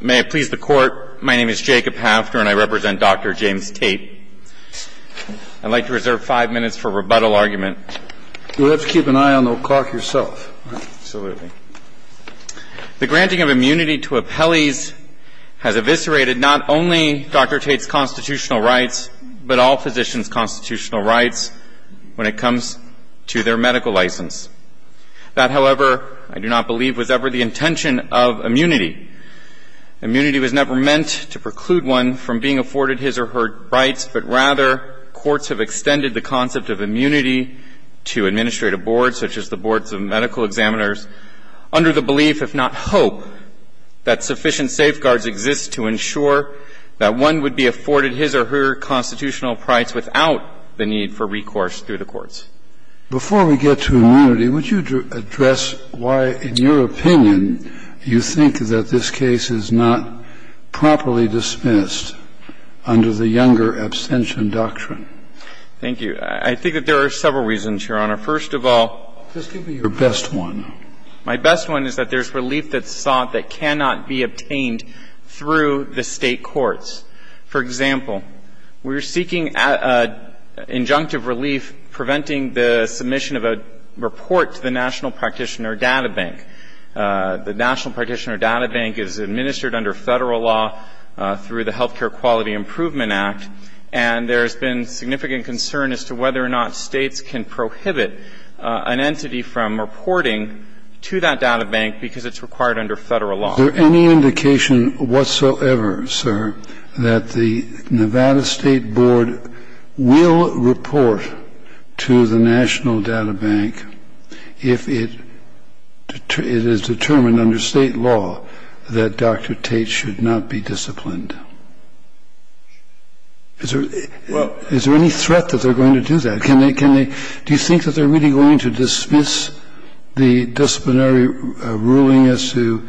May it please the Court, my name is Jacob Hafner and I represent Dr. James Tate. I'd like to reserve five minutes for rebuttal argument. You'll have to keep an eye on the clock yourself. Absolutely. The granting of immunity to appellees has eviscerated not only Dr. Tate's constitutional rights, but all physicians' constitutional rights when it comes to their medical license. That, however, I do not believe was ever the intention of immunity. Immunity was never meant to preclude one from being afforded his or her rights, but rather courts have extended the concept of immunity to administrative boards, such as the boards of medical examiners, under the belief, if not hope, that sufficient safeguards exist to ensure that one would be afforded his or her constitutional rights without the need for recourse through the courts. Before we get to immunity, would you address why, in your opinion, you think that this case is not properly dismissed under the younger abstention doctrine? Thank you. I think that there are several reasons, Your Honor. First of all, my best one is that there's relief that's sought that cannot be obtained through the State courts. For example, we're seeking injunctive relief preventing the submission of a report to the National Practitioner Data Bank. The National Practitioner Data Bank is administered under Federal law through the Healthcare Quality Improvement Act, and there's been significant concern as to whether or not States can prohibit an entity from reporting to that data bank because it's required under Federal law. Is there any indication whatsoever, sir, that the Nevada State Board will report to the National Data Bank if it is determined under State law that Dr. Tate should not be disciplined? Is there any threat that they're going to do that? Can they – do you think that they're really going to dismiss the disciplinary ruling as to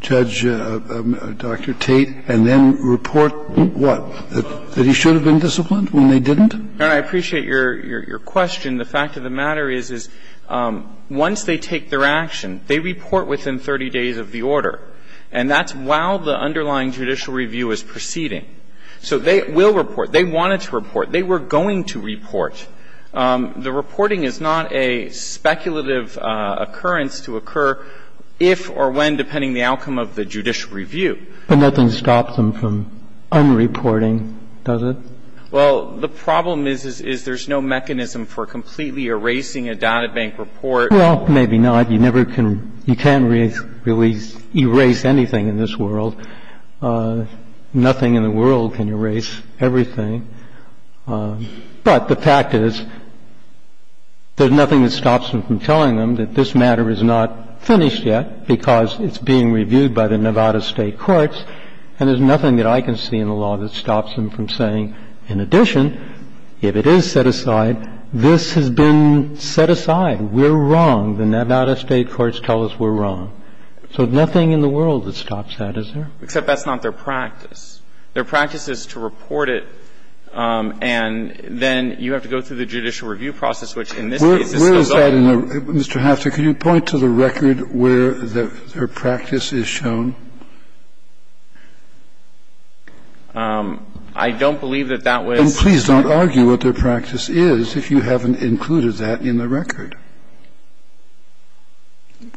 Judge Dr. Tate and then report what, that he should have been disciplined when they didn't? No, I appreciate your question. The fact of the matter is, is once they take their action, they report within 30 days of the order, and that's while the underlying judicial review is proceeding. So they will report, they wanted to report, they were going to report. The reporting is not a speculative occurrence to occur if or when, depending on the outcome of the judicial review. But nothing stops them from unreporting, does it? Well, the problem is, is there's no mechanism for completely erasing a data bank report. Well, maybe not. You never can – you can't really erase anything in this world. Nothing in the world can erase everything. But the fact is, there's nothing that stops them from telling them that this matter is not finished yet because it's being reviewed by the Nevada State Courts, and there's nothing that I can see in the law that stops them from saying, in addition, if it is set aside, this has been set aside. We're wrong. The Nevada State Courts tell us we're wrong. So nothing in the world that stops that, is there? Except that's not their practice. Their practice is to report it, and then you have to go through the judicial review process, which in this case is still going on. Mr. Hafter, can you point to the record where their practice is shown? I don't believe that that was the case. And please don't argue what their practice is if you haven't included that in the record.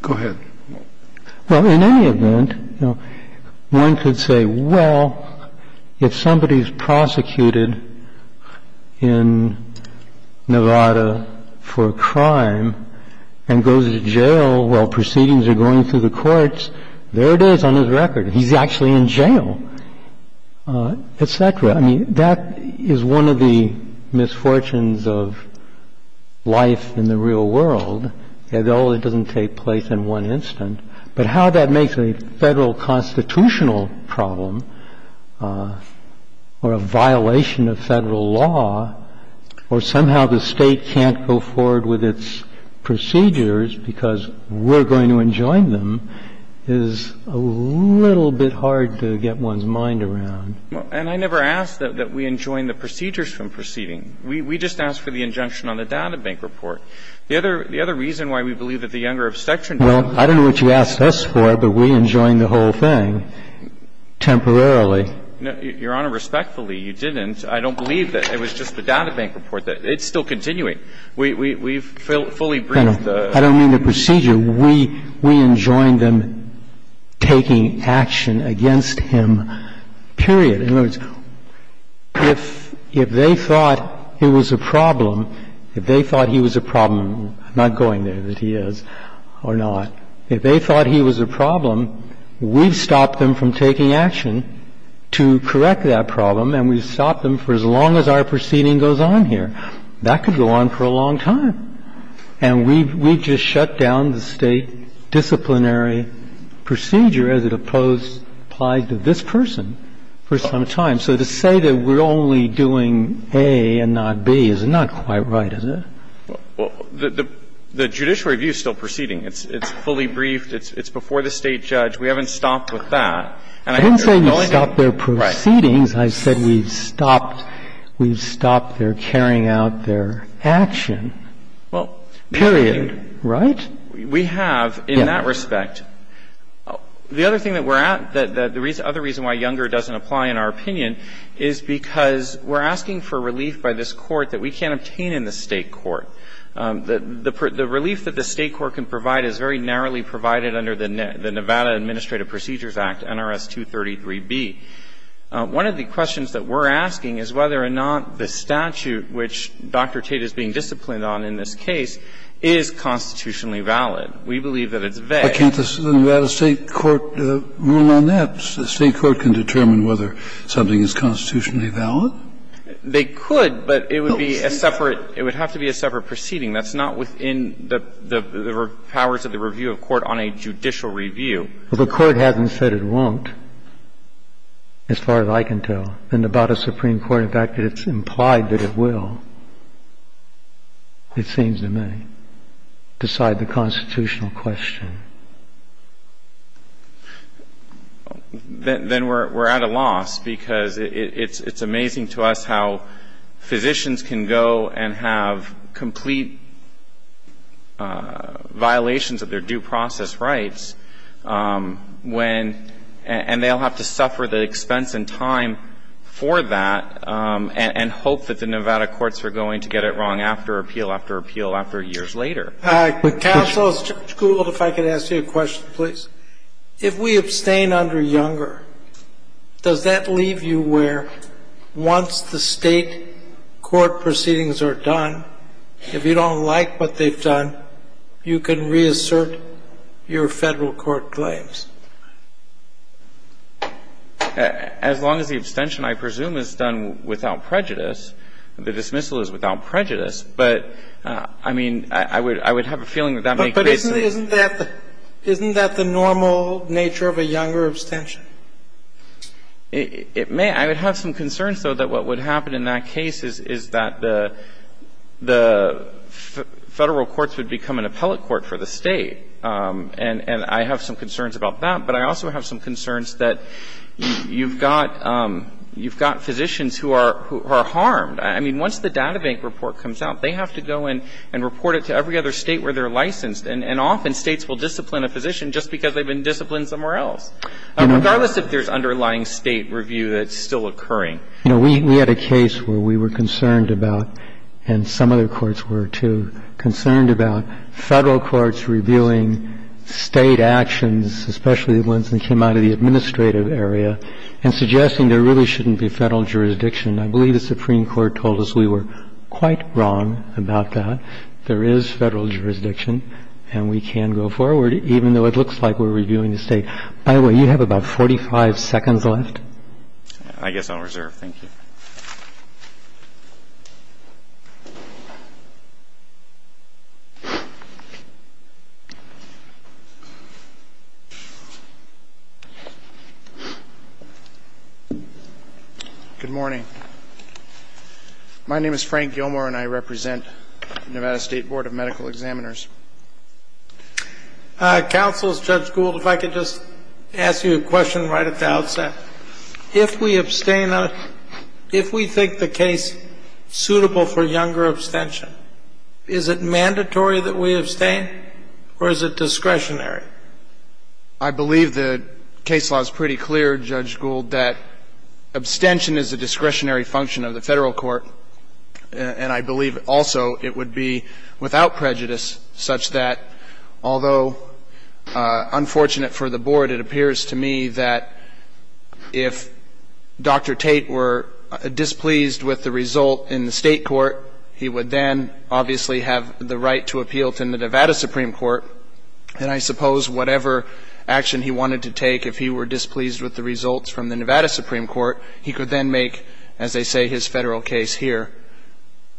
Go ahead. Well, in any event, one could say, well, if somebody is prosecuted in Nevada for a crime and goes to jail while proceedings are going through the courts, there it is on his record. He's actually in jail, et cetera. I mean, that is one of the misfortunes of life in the real world. But even if the State doesn't take place at all, it doesn't take place in one instant. But how that makes a Federal constitutional problem or a violation of Federal law or somehow the State can't go forward with its procedures because we're going to enjoin them is a little bit hard to get one's mind around. Well, and I never asked that we enjoin the procedures from proceeding. We just asked for the injunction on the databank report. The other reason why we believe that the Younger Obstetrics and Gynecology Department did that was because they were not going to take place at all. Well, I don't know what you asked us for, but we enjoined the whole thing temporarily. Your Honor, respectfully, you didn't. I don't believe that. It was just the databank report. It's still continuing. We've fully breathed the procedure. I don't mean the procedure. We enjoined them taking action against him, period. In other words, if they thought it was a problem, if they thought he was a problem – I'm not going there that he is or not – if they thought he was a problem, we've stopped them from taking action to correct that problem, and we've stopped them for as long as our proceeding goes on here. That could go on for a long time. And we've just shut down the State disciplinary procedure as it applies to this person for some time. So to say that we're only doing A and not B is not quite right, is it? Well, the judiciary review is still proceeding. It's fully briefed. It's before the State judge. We haven't stopped with that. I didn't say we stopped their proceedings. I said we've stopped their carrying out their action. Well, period, right? We have in that respect. The other thing that we're at, the other reason why Younger doesn't apply in our opinion, is because we're asking for relief by this Court that we can't obtain in the State court. The relief that the State court can provide is very narrowly provided under the Nevada Administrative Procedures Act, NRS 233b. One of the questions that we're asking is whether or not the statute which Dr. Tate is being disciplined on in this case is constitutionally valid. We believe that it's vague. But can't the Nevada State court rule on that? The State court can determine whether something is constitutionally valid? They could, but it would be a separate – it would have to be a separate proceeding. That's not within the powers of the review of court on a judicial review. Well, the Court hasn't said it won't, as far as I can tell. The Nevada Supreme Court, in fact, it's implied that it will, it seems to me, decide the constitutional question. Then we're at a loss because it's amazing to us how physicians can go and have complete violations of their due process rights when – and they'll have to suffer the expense and time for that and hope that the Nevada courts are going to get it wrong after appeal, after appeal, after years later. Counsel, if I could ask you a question, please. If we abstain under Younger, does that leave you where once the State court proceedings are done, if you don't like what they've done, you can reassert your Federal court claims? As long as the abstention, I presume, is done without prejudice, the dismissal is without prejudice, but, I mean, I would have a feeling that that makes sense. But isn't that the normal nature of a Younger abstention? It may. I would have some concerns, though, that what would happen in that case is that the Federal courts would become an appellate court for the State. And I have some concerns about that. But I also have some concerns that you've got physicians who are harmed. I mean, once the databank report comes out, they have to go in and report it to every other State where they're licensed. And often, States will discipline a physician just because they've been disciplined somewhere else, regardless if there's underlying State review that's still occurring. You know, we had a case where we were concerned about, and some other courts were, too, concerned about Federal courts reviewing State actions, especially the ones that came out of the administrative area, and suggesting there really shouldn't be Federal jurisdiction. I believe the Supreme Court told us we were quite wrong about that. There is Federal jurisdiction, and we can go forward, even though it looks like we're reviewing the State. By the way, you have about 45 seconds left. I guess I'll reserve. Thank you. Good morning. My name is Frank Gilmore, and I represent Nevada State Board of Medical Examiners. Counsel, Judge Gould, if I could just ask you a question right at the outset. If we abstain on it, if we think the case suitable for younger abstention, is it mandatory that we abstain, or is it discretionary? I believe the case law is pretty clear, Judge Gould, that abstention is a discretionary function of the Federal court, and I believe also it would be, without prejudice, such that, although unfortunate for the Board, it appears to me that if Dr. Tate were displeased with the result in the State court, he would then obviously have the right to appeal to the Nevada Supreme Court. And I suppose whatever action he wanted to take, if he were displeased with the results from the Nevada Supreme Court, he could then make, as they say, his Federal case here.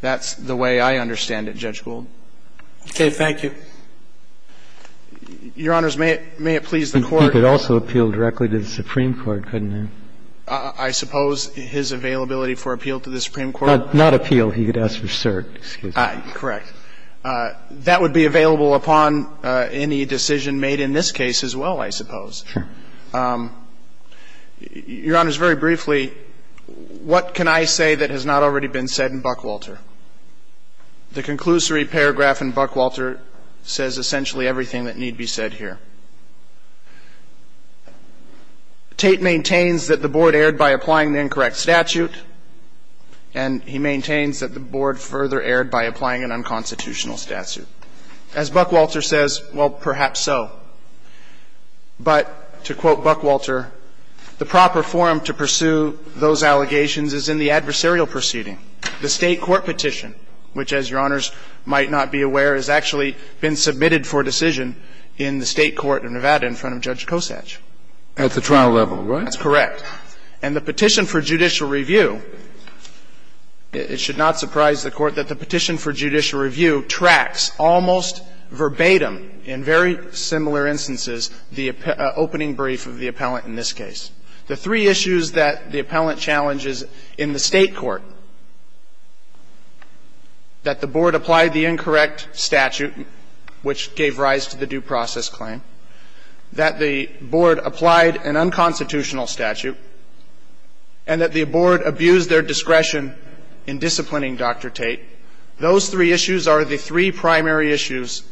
That's the way I understand it, Judge Gould. Okay, thank you. Your Honors, may it please the Court? He could also appeal directly to the Supreme Court, couldn't he? I suppose his availability for appeal to the Supreme Court? Not appeal. He could ask for cert. Correct. That would be available upon any decision made in this case as well, I suppose. Sure. Your Honors, very briefly, what can I say that has not already been said in Buckwalter? The conclusory paragraph in Buckwalter says essentially everything that need be said here. Tate maintains that the Board erred by applying the incorrect statute, and he maintains that the Board further erred by applying an unconstitutional statute. As Buckwalter says, well, perhaps so. But, to quote Buckwalter, the proper forum to pursue those allegations is in the adversarial proceeding. The State court petition, which, as Your Honors might not be aware, has actually been submitted for decision in the State court of Nevada in front of Judge Kosach. At the trial level, right? That's correct. And the petition for judicial review, it should not surprise the Court that the petition for judicial review tracks almost verbatim, in very similar instances, the opening brief of the appellant in this case. The three issues that the appellant challenges in the State court, that the Board applied the incorrect statute, which gave rise to the due process claim, that the Board applied an unconstitutional statute, and that the Board abused their discretion in disciplining Dr. Tate, those three issues are the three primary issues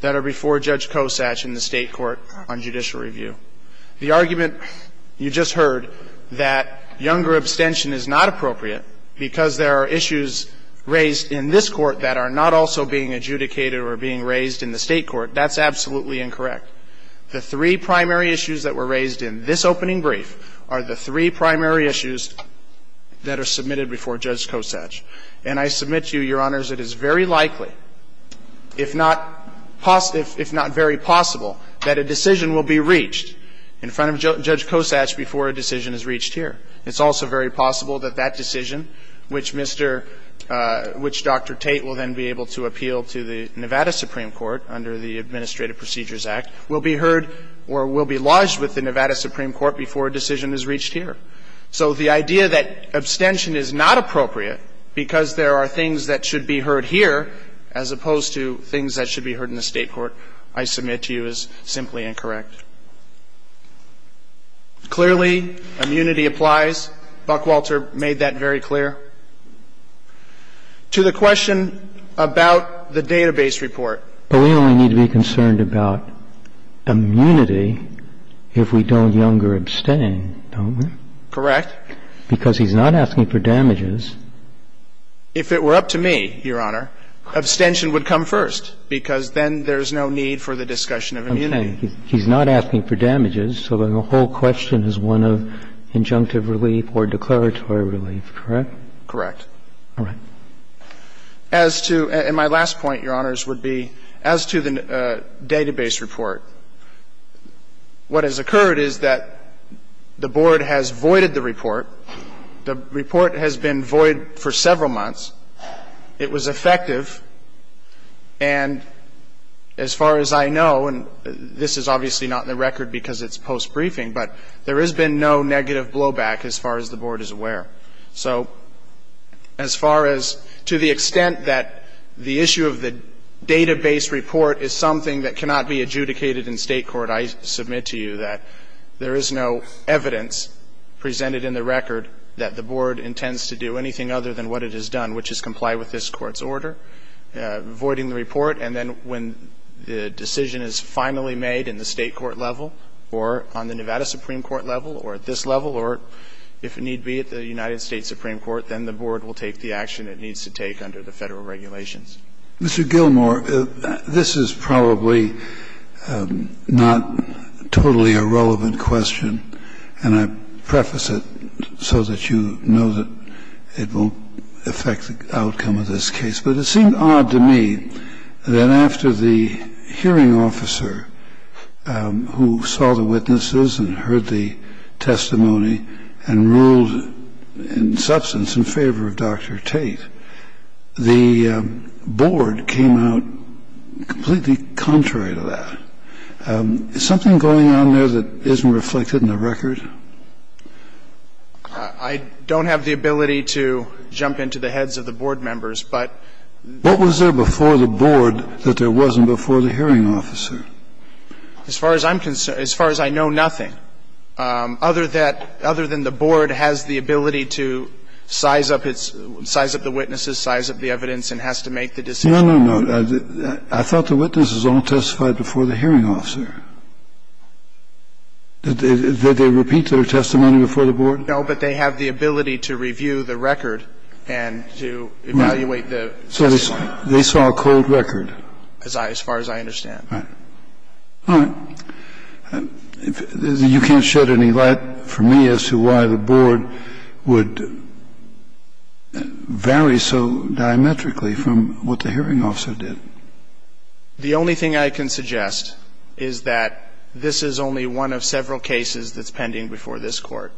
that are before Judge Kosach in the State court on judicial review. The argument you just heard that younger abstention is not appropriate because there are issues raised in this court that are not also being adjudicated or being raised in the State court, that's absolutely incorrect. The three primary issues that were raised in this opening brief are the three primary issues that are submitted before Judge Kosach. And I submit to you, Your Honors, it is very likely, if not very possible, that a decision will be reached in front of Judge Kosach before a decision is reached here. It's also very possible that that decision, which Dr. Tate will then be able to appeal to the Nevada Supreme Court under the Administrative Procedures Act, will be heard or will be lodged with the Nevada Supreme Court before a decision is reached here. So the idea that abstention is not appropriate because there are things that should be heard here, as opposed to things that should be heard in the State court, I submit to you is simply incorrect. Clearly, immunity applies. Buckwalter made that very clear. To the question about the database report. But we only need to be concerned about immunity if we don't younger abstain, don't we? Correct. Because he's not asking for damages. If it were up to me, Your Honor, abstention would come first, because then there's no need for the discussion of immunity. Okay. He's not asking for damages, so then the whole question is one of injunctive relief or declaratory relief, correct? Correct. All right. As to, and my last point, Your Honors, would be, as to the database report, what has occurred is that the Board has voided the report. The report has been void for several months. It was effective, and as far as I know, and this is obviously not in the record because it's post-briefing, but there has been no negative blowback as far as the Board is aware. So as far as, to the extent that the issue of the database report is something that cannot be adjudicated in State court, I submit to you that there is no evidence presented in the record that the Board intends to do anything other than what it has done, which is comply with this Court's order, voiding the report, and then when the decision is finally made in the State court level or on the Nevada Supreme Court level or at this level or, if need be, at the United States Supreme Court, then the Board will take the action it needs to take under the Federal regulations. Mr. Gilmour, this is probably not totally a relevant question, and I preface it so that you know that it won't affect the outcome of this case. But it seemed odd to me that after the hearing officer who saw the witnesses and heard the testimony and ruled in substance in favor of Dr. Tate, the Board came out completely contrary to that. Is something going on there that isn't reflected in the record? I don't have the ability to jump into the heads of the Board members, but ---- What was there before the Board that there wasn't before the hearing officer? As far as I'm concerned, as far as I know, nothing other than the Board has the ability to size up the witnesses, size up the evidence, and has to make the decision. No, no, no. I thought the witnesses all testified before the hearing officer. Did they repeat their testimony before the Board? No, but they have the ability to review the record and to evaluate the testimony. So they saw a cold record? As far as I understand. All right. You can't shed any light for me as to why the Board would vary so diametrically from what the hearing officer did. The only thing I can suggest is that this is only one of several cases that's pending before this Court,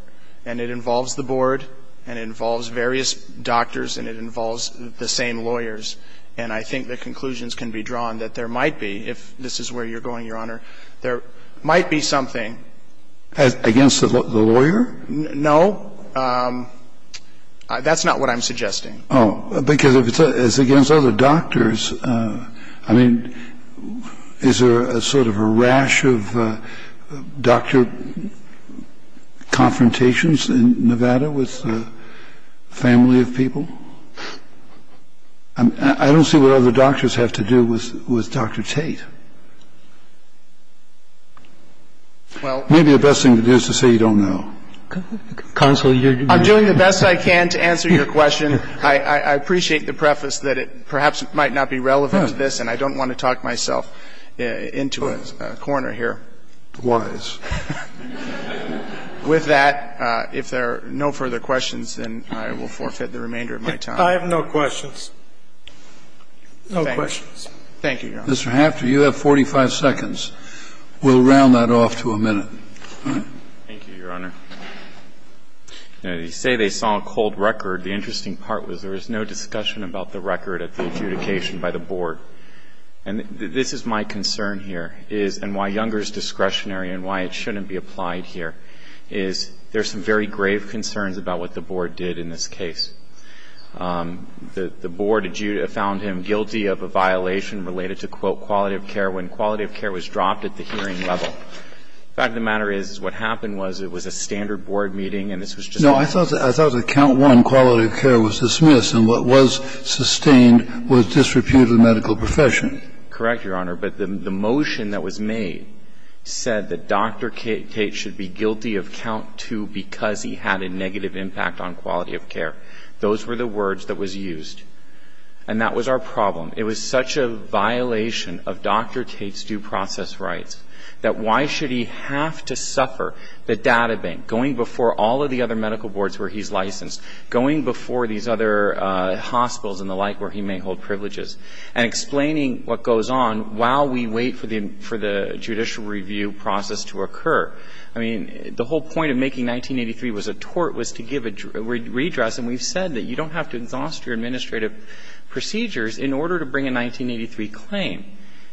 and it involves the Board and it involves various doctors and it involves the same lawyers. And I think the conclusions can be drawn that there might be, if this is where you're going, Your Honor, there might be something. Against the lawyer? No. That's not what I'm suggesting. Oh, because if it's against other doctors, I mean, is there sort of a rash of doctor confrontations in Nevada with a family of people? I don't see what other doctors have to do with Dr. Tate. Maybe the best thing to do is to say you don't know. Counsel, you're doing the best I can to answer your question. I appreciate the preface that it perhaps might not be relevant to this, and I don't want to talk myself into a corner here. Wise. With that, if there are no further questions, then I will forfeit the remainder of my time. I have no questions. No questions. Thank you, Your Honor. Mr. Hafner, you have 45 seconds. We'll round that off to a minute. Thank you, Your Honor. Now, you say they saw a cold record. The interesting part was there was no discussion about the record at the adjudication by the board. And this is my concern here, and why Younger is discretionary and why it shouldn't be applied here, is there's some very grave concerns about what the board did in this case. The board found him guilty of a violation related to, quote, quality of care when quality of care was dropped at the hearing level. In fact, the matter is, what happened was it was a standard board meeting and this was just a board meeting. No, I thought that count one, quality of care, was dismissed, and what was sustained was disrepute of the medical profession. Correct, Your Honor. But the motion that was made said that Dr. Tate should be guilty of count two because he had a negative impact on quality of care. Those were the words that was used. And that was our problem. It was such a violation of Dr. Tate's due process rights that why should he have to suffer the data bank, going before all of the other medical boards where he's licensed, going before these other hospitals and the like where he may hold privileges, and explaining what goes on while we wait for the judicial review process to occur. I mean, the whole point of making 1983 was a tort was to give a redress, and we've said that you don't have to exhaust your administrative procedures in order to bring a 1983 claim.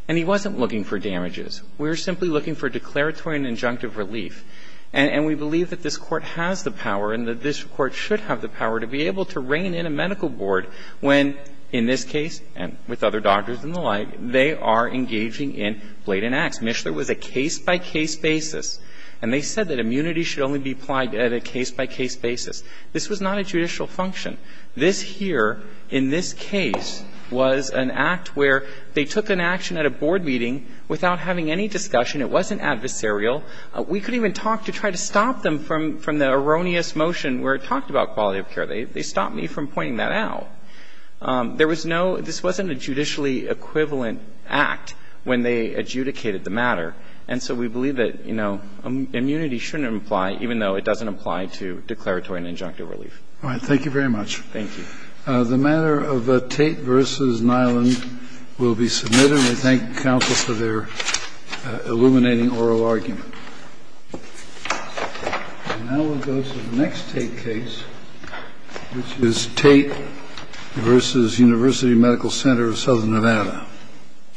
And he wasn't looking for damages. We were simply looking for declaratory and injunctive relief. And we believe that this Court has the power and that this Court should have the power to be able to rein in a medical board when, in this case and with other doctors and the like, they are engaging in blatant acts. Mishler was a case-by-case basis, and they said that immunity should only be applied at a case-by-case basis. This was not a judicial function. This here, in this case, was an act where they took an action at a board meeting without having any discussion. It wasn't adversarial. We couldn't even talk to try to stop them from the erroneous motion where it talked about quality of care. They stopped me from pointing that out. There was no – this wasn't a judicially equivalent act when they adjudicated the matter. And so we believe that, you know, immunity shouldn't apply even though it doesn't apply to declaratory and injunctive relief. All right. Thank you very much. Thank you. The matter of Tate v. Nyland will be submitted. And we thank counsel for their illuminating oral argument. And now we'll go to the next Tate case, which is Tate v. University Medical Center of Southern Nevada.